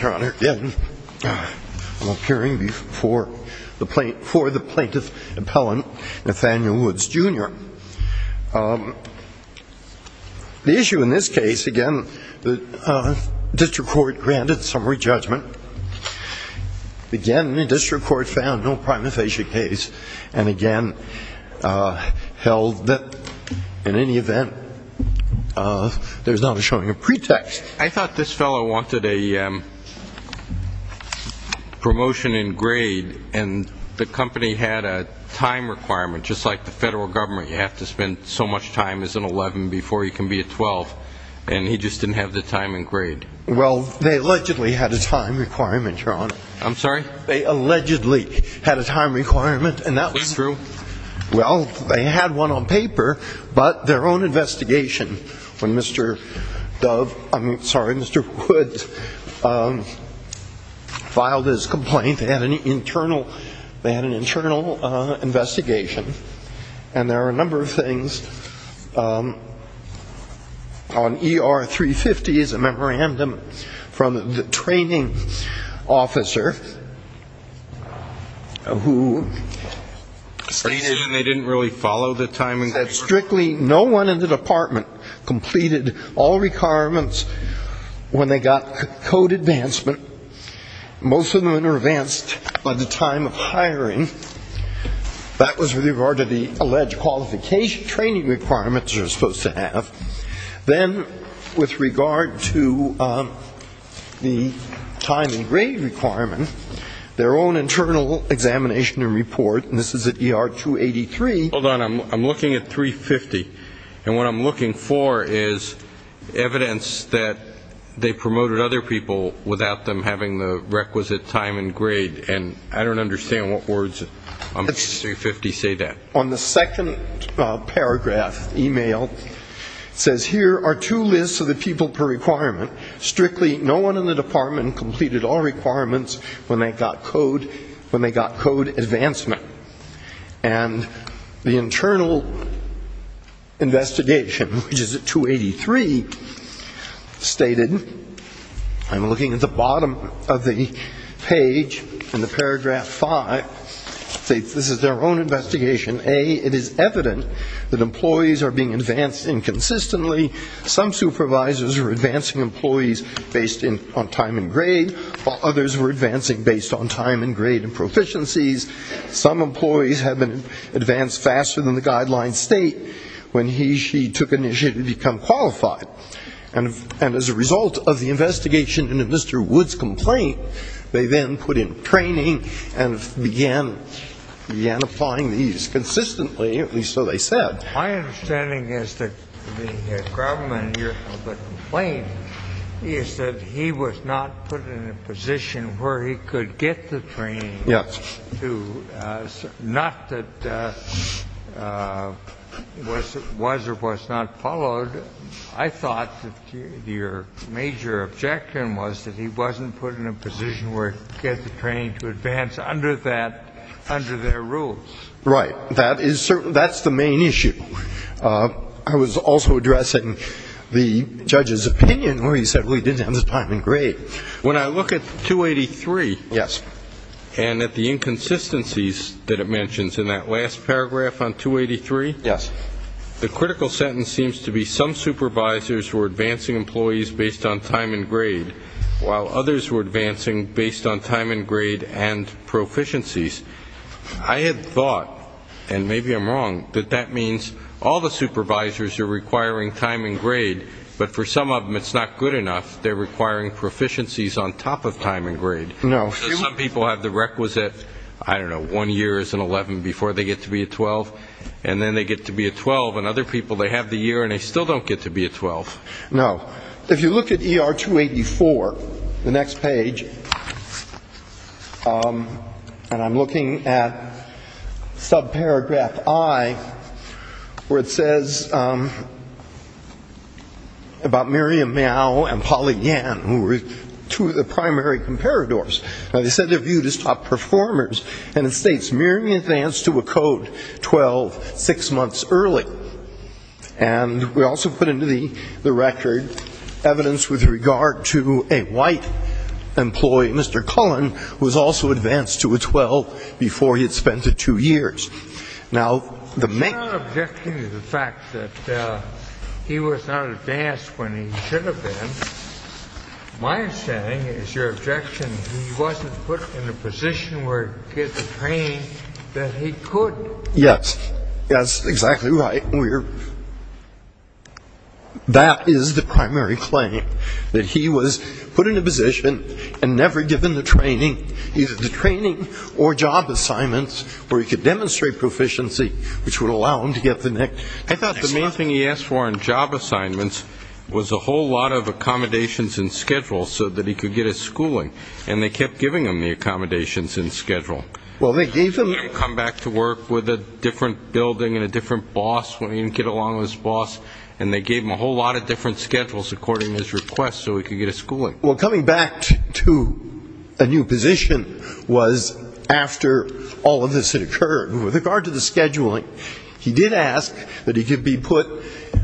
Your Honor, again, I'm appearing before the plaintiff's appellant, Nathaniel Woods Jr. The issue in this case, again, the district court granted summary judgment. Again, the district court found no prima facie case, and again, held that in any event, there's not a showing of pretext. I thought this fellow wanted a promotion in grade, and the company had a time requirement, just like the federal government. You have to spend so much time as an 11 before you can be a 12, and he just didn't have the time and grade. Well, they allegedly had a time requirement, Your Honor. I'm sorry? They allegedly had a time requirement, and that was true. Well, they had one on paper, but their own investigation, when Mr. Dove, I'm sorry, Mr. Woods filed his complaint, they had an internal investigation. And there are a number of things. On ER 350 is a memorandum from the training officer who stated that strictly no one in the department completed all requirements when they got code advancement. Most of them were advanced by the time of hiring. That was with regard to the alleged qualification training requirements they were supposed to have. Then with regard to the time and grade requirement, their own internal examination and report, and this is at ER 283. Hold on, I'm looking at 350, and what I'm looking for is evidence that they promoted other people without them having the requisite time and grade, and I don't understand what words on 350 say that. On the second paragraph, email, it says here are two lists of the people per requirement. Strictly no one in the department completed all requirements when they got code advancement. And the internal investigation, which is at 283, stated, I'm looking at the bottom of the page in the paragraph five, this is their own investigation, A, it is evident that employees are being advanced inconsistently. Some supervisors are advancing employees based on time and grade, while others were advancing based on time and grade and proficiencies. Some employees have been advanced faster than the guideline state when he or she took initiative to become qualified. And as a result of the investigation into Mr. Wood's complaint, they then put in training and began applying these consistently, at least so they said. My understanding is that the problem with the complaint is that he was not put in a position where he could get the training. Yes. Not that it was or was not followed. I thought that your major objection was that he wasn't put in a position where he could get the training to advance under that, under their rules. Right. That is certain. That's the main issue. I was also addressing the judge's opinion where he said, well, he didn't have his time and grade. When I look at 283 and at the inconsistencies that it mentions in that last paragraph on 283, the critical sentence seems to be some supervisors were advancing employees based on time and grade, while others were advancing based on time and grade and proficiencies. I had thought, and maybe I'm wrong, that that means all the supervisors are requiring time and grade, but for some of them it's not good enough. They're requiring proficiencies on top of time and grade. No. Some people have the requisite, I don't know, one year as an 11 before they get to be a 12, and then they get to be a 12, and other people, they have the year and they still don't get to be a 12. No. If you look at ER 284, the next page, and I'm looking at subparagraph I, where it says about Miriam Mao and Polly Yan, who were two of the primary comparadors. Now, they said they're viewed as top performers, and it states Miriam advanced to a code 12 six months early. And we also put into the record evidence with regard to a white employee, Mr. Cullen, who was also advanced to a 12 before he had spent the two years. Now, the main ---- I'm not objecting to the fact that he was not advanced when he should have been. My understanding is your objection, he wasn't put in a position where he could get the training that he could. Yes. That's exactly right. That is the primary claim, that he was put in a position and never given the training, either the training or job assignments, where he could demonstrate proficiency, which would allow him to get the next job. I thought the main thing he asked for in job assignments was a whole lot of accommodations and schedules so that he could get his schooling, and they kept giving him the accommodations and schedule. Come back to work with a different building and a different boss when he didn't get along with his boss, and they gave him a whole lot of different schedules according to his request so he could get his schooling. Well, coming back to a new position was after all of this had occurred. With regard to the scheduling, he did ask that he could be put,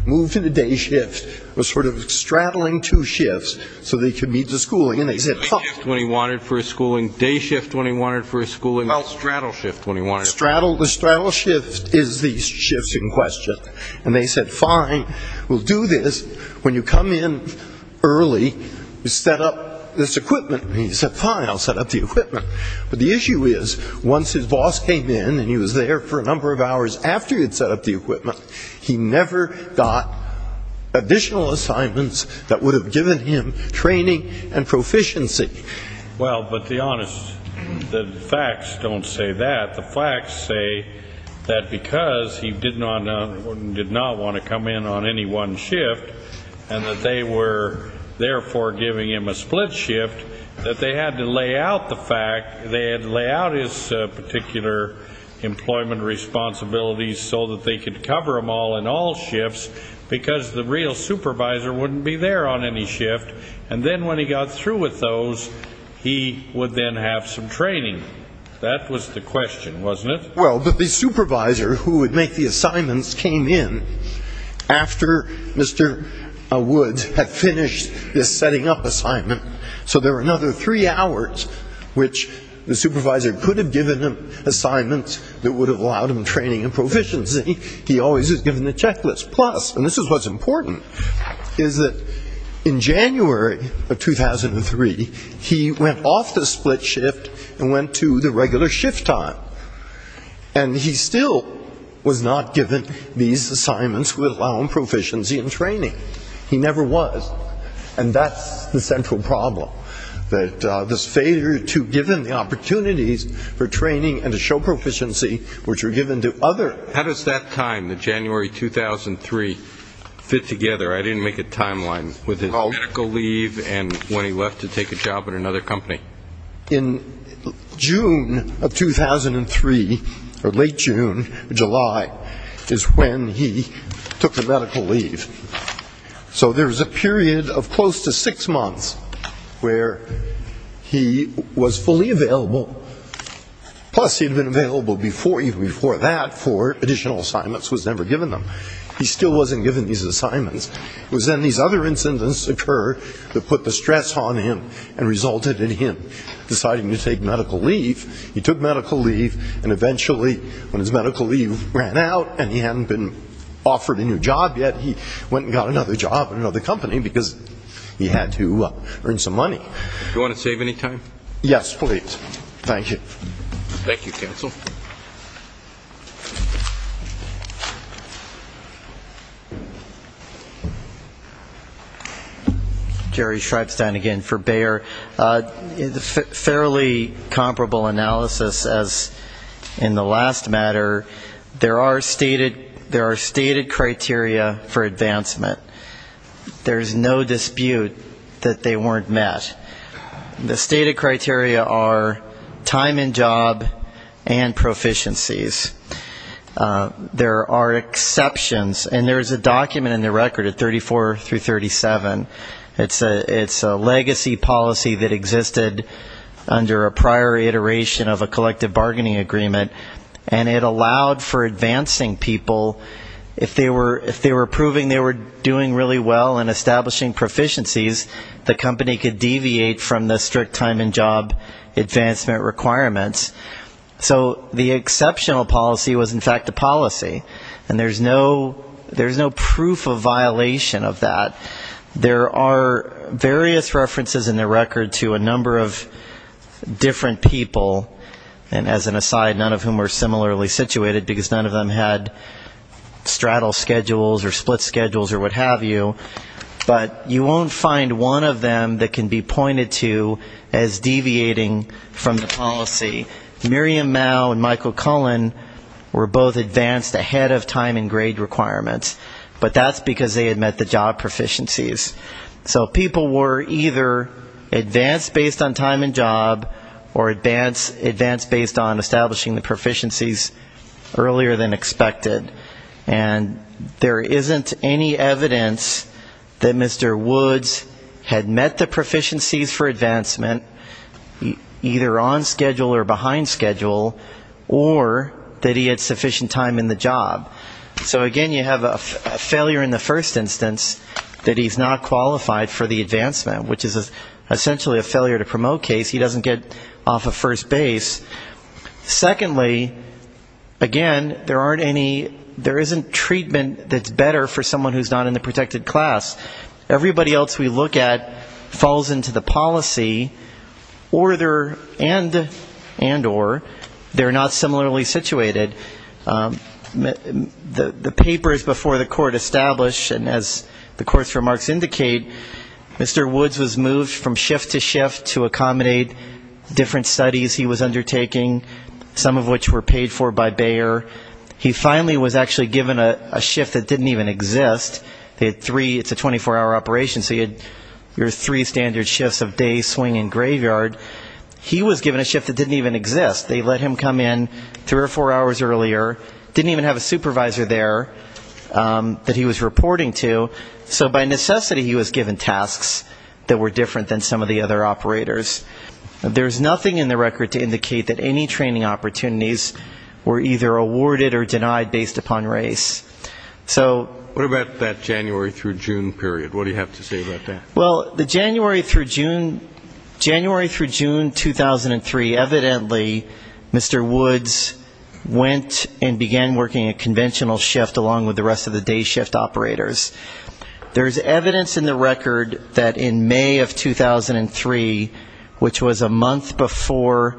moved into day shift, was sort of straddling two shifts so that he could meet the schooling, and they said no. Day shift when he wanted for his schooling, day shift when he wanted for his schooling. Well, straddle shift when he wanted. The straddle shift is the shift in question. And they said, fine, we'll do this. When you come in early, set up this equipment. And he said, fine, I'll set up the equipment. But the issue is, once his boss came in and he was there for a number of hours after he had set up the equipment, he never got additional assignments that would have given him training and proficiency. Well, but the honest, the facts don't say that. The facts say that because he did not want to come in on any one shift, and that they were therefore giving him a split shift, that they had to lay out the fact, they had to lay out his particular employment responsibilities so that they could cover them all in all shifts, because the real supervisor wouldn't be there on any shift. And then when he got through with those, he would then have some training. That was the question, wasn't it? Well, but the supervisor who would make the assignments came in after Mr. Wood had finished this setting up assignment. So there were another three hours which the supervisor could have given him assignments that would have allowed him training and proficiency. He always was given a checklist. Plus, and this is what's important, is that in January of 2003, he went off the split shift and went to the regular shift time. And he still was not given these assignments that would allow him proficiency and training. He never was. And that's the central problem, that this failure to give him the opportunities for training and to show proficiency which were given to others. How does that time, the January 2003, fit together? I didn't make a timeline with his medical leave and when he left to take a job at another company. In June of 2003, or late June, July, is when he took a medical leave. So there was a period of close to six months where he was fully available. Plus, he had been available even before that for additional assignments, was never given them. He still wasn't given these assignments. It was then these other incidents occurred that put the stress on him and resulted in him deciding to take medical leave. He took medical leave and eventually, when his medical leave ran out and he hadn't been offered a new job yet, he went and got another job at another company because he had to earn some money. Do you want to save any time? Yes, please. Thank you. Thank you, counsel. Jerry Schreibstein again for Bayer. Fairly comparable analysis as in the last matter, there are stated criteria for advancement. There's no dispute that they weren't met. The stated criteria are time and job and proficiencies. There are exceptions, and there's a document in the record at 34 through 37. It's a legacy policy that existed under a prior iteration of a collective bargaining agreement, and it allowed for advancing people if they were proving they were doing really well and establishing proficiencies, the company could deviate from the strict time and job advancement requirements. So the exceptional policy was, in fact, a policy, and there's no proof of violation of that. There are various references in the record to a number of different people, and as an aside, none of whom were similarly situated because none of them had straddle schedules or split schedules or what have you. But you won't find one of them that can be pointed to as deviating from the policy. Miriam Mao and Michael Cullen were both advanced ahead of time and grade requirements, but that's because they had met the job proficiencies. So people were either advanced based on time and job or advanced based on establishing the proficiencies earlier than expected. And there isn't any evidence that Mr. Woods had met the proficiencies for advancement, either on schedule or behind schedule, or that he had sufficient time in the job. So, again, you have a failure in the first instance that he's not qualified for the advancement, which is essentially a failure to promote case. He doesn't get off of first base. Secondly, again, there aren't any, there isn't treatment that's better for someone who's not in the protected class. Everybody else we look at falls into the policy, and or, they're not similarly situated. The papers before the court establish, and as the court's remarks indicate, Mr. Woods was moved from shift to shift to accommodate different studies he was undertaking, some of which were paid for by Bayer. He finally was actually given a shift that didn't even exist. It's a 24-hour operation, so you had your three standard shifts of day, swing, and graveyard. He was given a shift that didn't even exist. They let him come in three or four hours earlier, didn't even have a supervisor there that he was reporting to, so by necessity he was given tasks that were different than some of the other operators. There's nothing in the record to indicate that any training opportunities were either awarded or denied based upon race. What about that January through June period? What do you have to say about that? Well, the January through June 2003, evidently Mr. Woods went and began working a conventional shift along with the rest of the day shift operators. There's evidence in the record that in May of 2003, which was a month before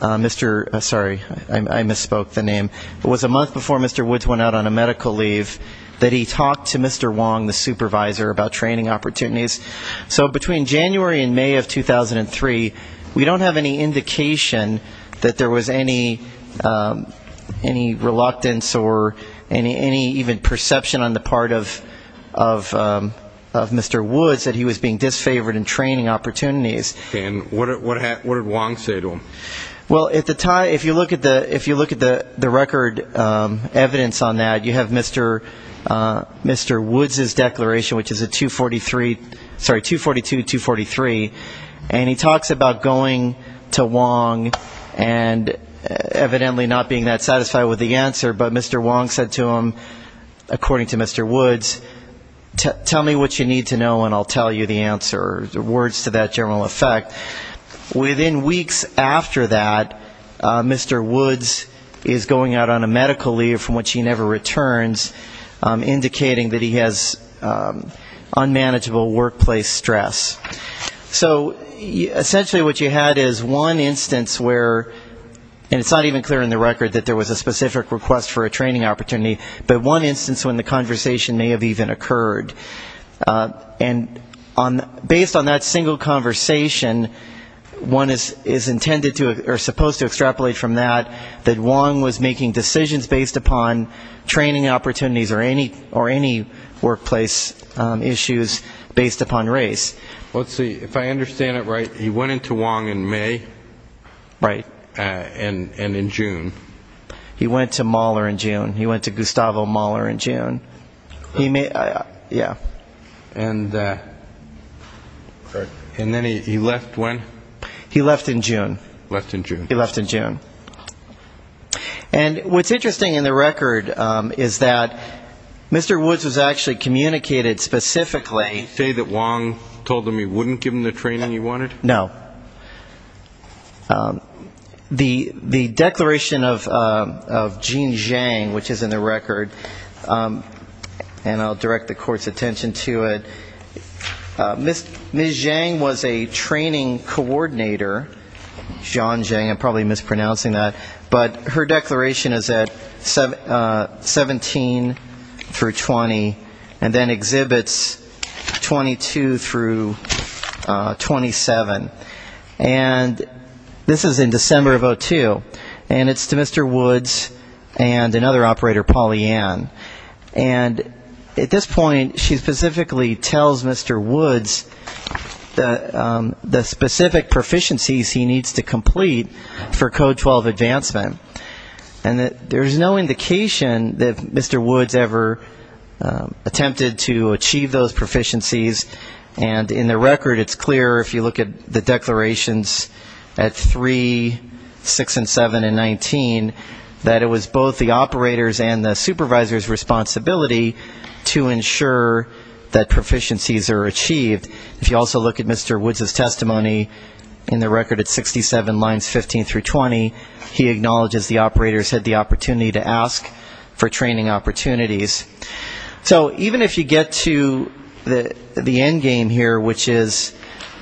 Mr. ---- sorry, I misspoke the name. It was a month before Mr. Woods went out on a medical leave that he talked to Mr. Wong, the supervisor, about training opportunities. So between January and May of 2003, we don't have any indication that there was any reluctance or any even perception on the part of Mr. Woods that he was being disfavored in training opportunities. Well, if you look at the record evidence on that, you have Mr. Woods' declaration, which is a 242-243, and he talks about going to Wong and evidently not being that satisfied with the answer, but Mr. Wong said to him, according to Mr. Woods, tell me what you need to know and I'll tell you the answer, words to that general effect. Within weeks after that, Mr. Woods is going out on a medical leave from which he never returns, indicating that he has unmanageable workplace stress. So essentially what you had is one instance where, and it's not even clear in the record that there was a specific request for a training opportunity, but one instance when the conversation may have even occurred. And based on that single conversation, one is supposed to extrapolate from that, that Wong was making decisions based upon training opportunities or any workplace issues based upon race. Let's see. If I understand it right, he went into Wong in May and in June. He went to Mueller in June. He went to Gustavo Mueller in June. Yeah. And then he left when? He left in June. Left in June. He left in June. And what's interesting in the record is that Mr. Woods was actually communicated specifically. Did he say that Wong told him he wouldn't give him the training he wanted? No. The declaration of Jean Zhang, which is in the record, and I'll direct the Court's attention to it, Ms. Zhang was a training coordinator, Jean Zhang, I'm probably mispronouncing that, but her declaration is at 17 through 20 and then exhibits 22 through 27. And this is in December of 2002, and it's to Mr. Woods and another operator, Polly Ann. And at this point, she specifically tells Mr. Woods the specific proficiencies he needs to complete for Code 12 advancement. And there's no indication that Mr. Woods ever attempted to achieve those proficiencies, and in the record it's clear if you look at the declarations at 3, 6 and 7 and 19, that it was both the operator's and the supervisor's responsibility to ensure that proficiencies are achieved. If you also look at Mr. Woods' testimony in the record at 67 lines 15 through 20, he acknowledges the operators had the opportunity to ask for training opportunities. So even if you get to the end game here, which is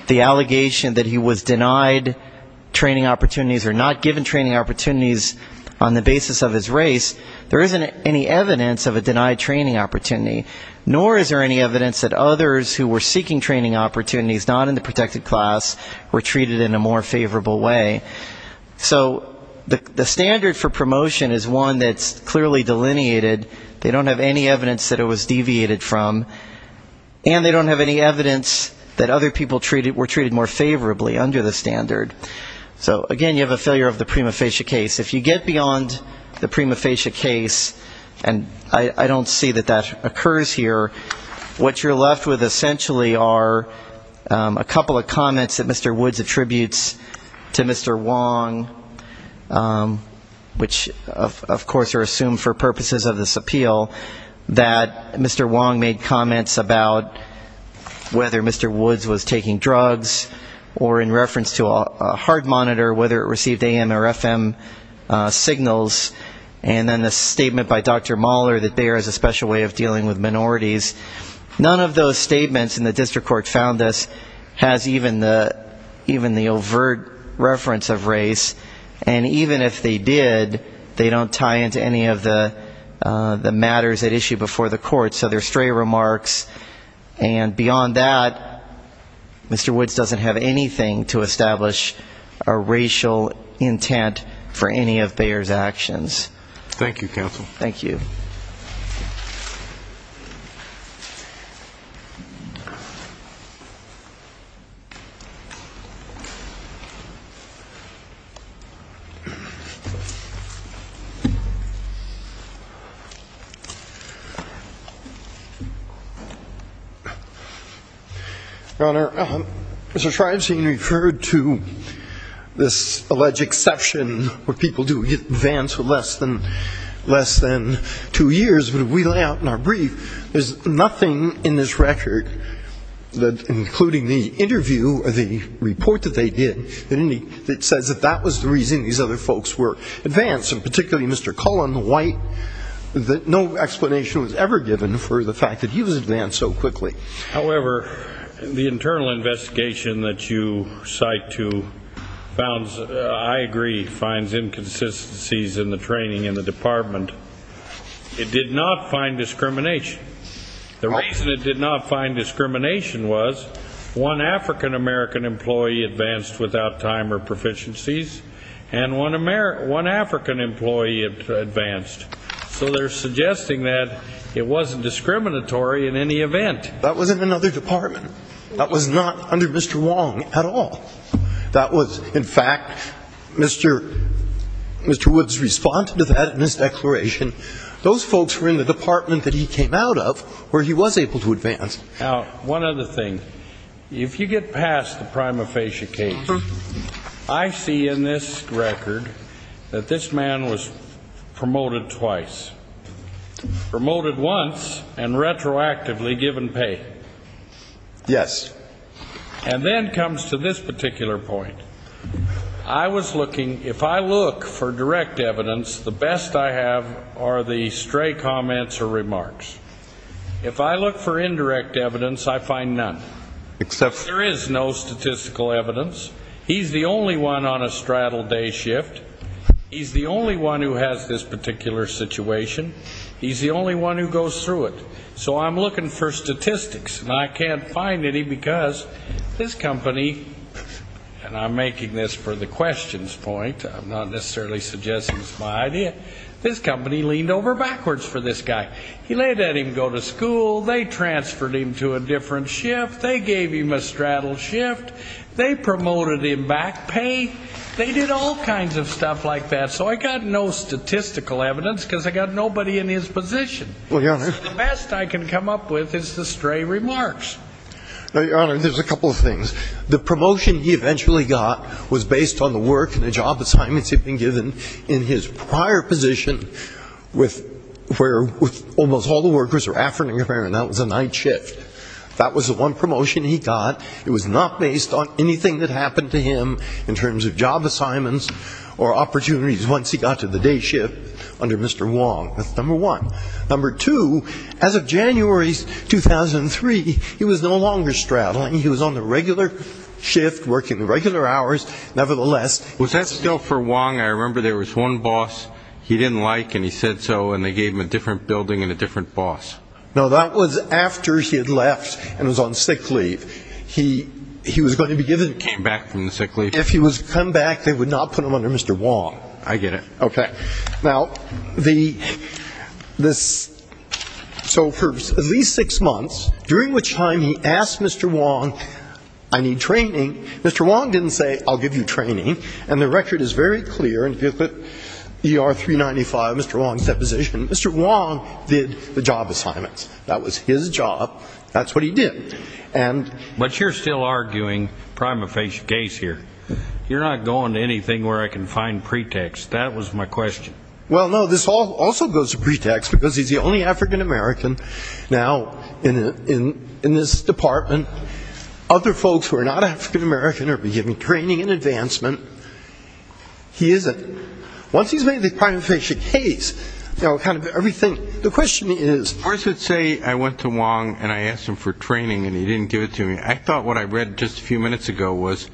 the allegation that he was denied training opportunities or not given training opportunities on the basis of his race, there isn't any evidence of a denied training opportunity, nor is there any evidence that others who were seeking training opportunities not in the protected class were treated in a more favorable way. So the standard for promotion is one that's clearly delineated. They don't have any evidence that it was deviated from. And they don't have any evidence that other people were treated more favorably under the standard. So, again, you have a failure of the prima facie case. If you get beyond the prima facie case, and I don't see that that occurs here, what you're left with essentially are a couple of comments that Mr. Woods attributes to Mr. Wong, which of course are assumed for purposes of this appeal, that Mr. Wong made comments about whether Mr. Woods was taking drugs or in reference to a hard monitor, whether it received AM or FM signals, and then the statement by Dr. Mahler that Bayer has a special way of dealing with minorities. None of those statements in the district court found this has even the overt reference of race. And even if they did, they don't tie into any of the matters at issue before the court. So they're stray remarks. And beyond that, Mr. Woods doesn't have anything to establish a racial intent for any of Bayer's actions. Thank you, counsel. Thank you. Your Honor, Mr. Shrivestein referred to this alleged exception where people do advance for less than two years. But if we lay out in our brief, there's nothing in this record, including the interview or the report that they did, that says that that was the reason these other folks were advanced, and particularly Mr. Cullen, that no explanation was ever given for the fact that he was advanced so quickly. However, the internal investigation that you cite, too, I agree, finds inconsistencies in the training in the department. It did not find discrimination. The reason it did not find discrimination was one African-American employee advanced without time or proficiencies, and one African employee advanced. So they're suggesting that it wasn't discriminatory in any event. That was in another department. That was not under Mr. Wong at all. That was, in fact, Mr. Woods responded to that in his declaration. Those folks were in the department that he came out of where he was able to advance. Now, one other thing. If you get past the prima facie case, I see in this record that this man was promoted twice. Promoted once and retroactively given pay. Yes. And then comes to this particular point. I was looking, if I look for direct evidence, the best I have are the stray comments or remarks. If I look for indirect evidence, I find none. There is no statistical evidence. He's the only one on a straddle day shift. He's the only one who has this particular situation. He's the only one who goes through it. So I'm looking for statistics, and I can't find any because this company, and I'm making this for the questions point. I'm not necessarily suggesting it's my idea. This company leaned over backwards for this guy. He let him go to school. They transferred him to a different shift. They gave him a straddle shift. They promoted him back pay. They did all kinds of stuff like that. So I got no statistical evidence because I got nobody in his position. So the best I can come up with is the stray remarks. Your Honor, there's a couple of things. The promotion he eventually got was based on the work and the job assignments he'd been given in his prior position where almost all the workers were after him, and that was a night shift. That was the one promotion he got. It was not based on anything that happened to him in terms of job assignments or opportunities once he got to the day shift under Mr. Wong. That's number one. Number two, as of January 2003, he was no longer straddling. He was on the regular shift working the regular hours nevertheless. Was that still for Wong? I remember there was one boss he didn't like, and he said so, and they gave him a different building and a different boss. No, that was after he had left and was on sick leave. He was going to be given to him. Came back from the sick leave. If he was to come back, they would not put him under Mr. Wong. I get it. Okay. Now, so for at least six months, during which time he asked Mr. Wong, I need training. Mr. Wong didn't say, I'll give you training, and the record is very clear. If you look at ER 395, Mr. Wong's deposition, Mr. Wong did the job assignments. That was his job. That's what he did. But you're still arguing prima facie case here. You're not going to anything where I can find pretext. That was my question. Well, no, this also goes to pretext because he's the only African American now in this department. Other folks who are not African American are being given training and advancement. He isn't. Once he's made the prima facie case, you know, kind of everything, the question is. I should say I went to Wong and I asked him for training, and he didn't give it to me. I thought what I read just a few minutes ago was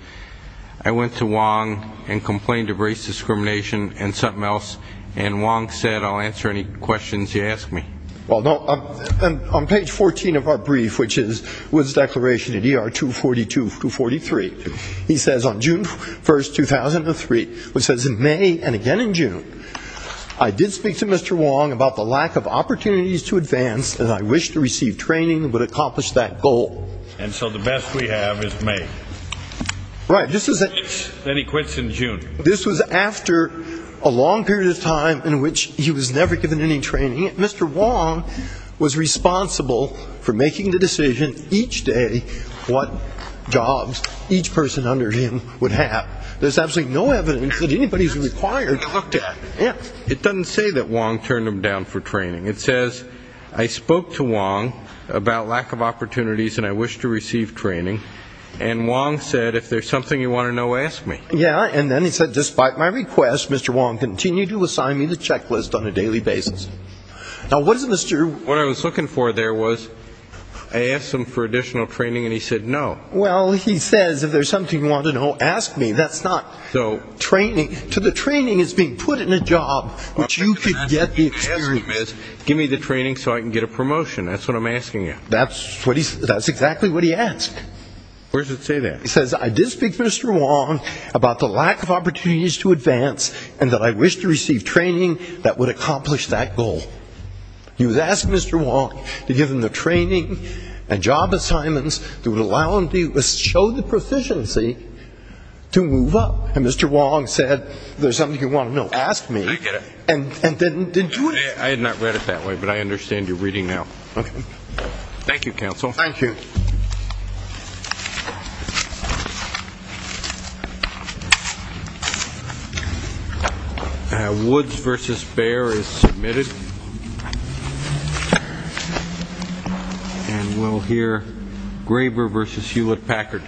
I went to Wong and complained of race discrimination and something else, and Wong said, I'll answer any questions you ask me. Well, no, on page 14 of our brief, which is Wood's declaration at ER 242-243, he says on June 1, 2003, which says in May and again in June, I did speak to Mr. Wong about the lack of opportunities to advance, and I wish to receive training that would accomplish that goal. And so the best we have is May. Right. Then he quits in June. This was after a long period of time in which he was never given any training. Mr. Wong was responsible for making the decision each day what jobs each person under him would have. There's absolutely no evidence that anybody who's required talked to him. It doesn't say that Wong turned him down for training. It says, I spoke to Wong about lack of opportunities and I wish to receive training, and Wong said, if there's something you want to know, ask me. Yeah, and then he said, despite my request, Mr. Wong continued to assign me the checklist on a daily basis. Now, what does Mr. What I was looking for there was I asked him for additional training, and he said no. Well, he says, if there's something you want to know, ask me. That's not training. The training is being put in a job, which you can get the experience. Give me the training so I can get a promotion. That's what I'm asking you. That's exactly what he asked. Where does it say that? It says, I did speak to Mr. Wong about the lack of opportunities to advance, and that I wish to receive training that would accomplish that goal. He was asking Mr. Wong to give him the training and job assignments that would allow him to show the proficiency to move up. And Mr. Wong said, if there's something you want to know, ask me. I get it. And then, did you? I had not read it that way, but I understand you're reading now. Okay. Thank you, counsel. Thank you. Thank you. Woods versus Behr is submitted. And we'll hear Graber versus Hewlett-Packard.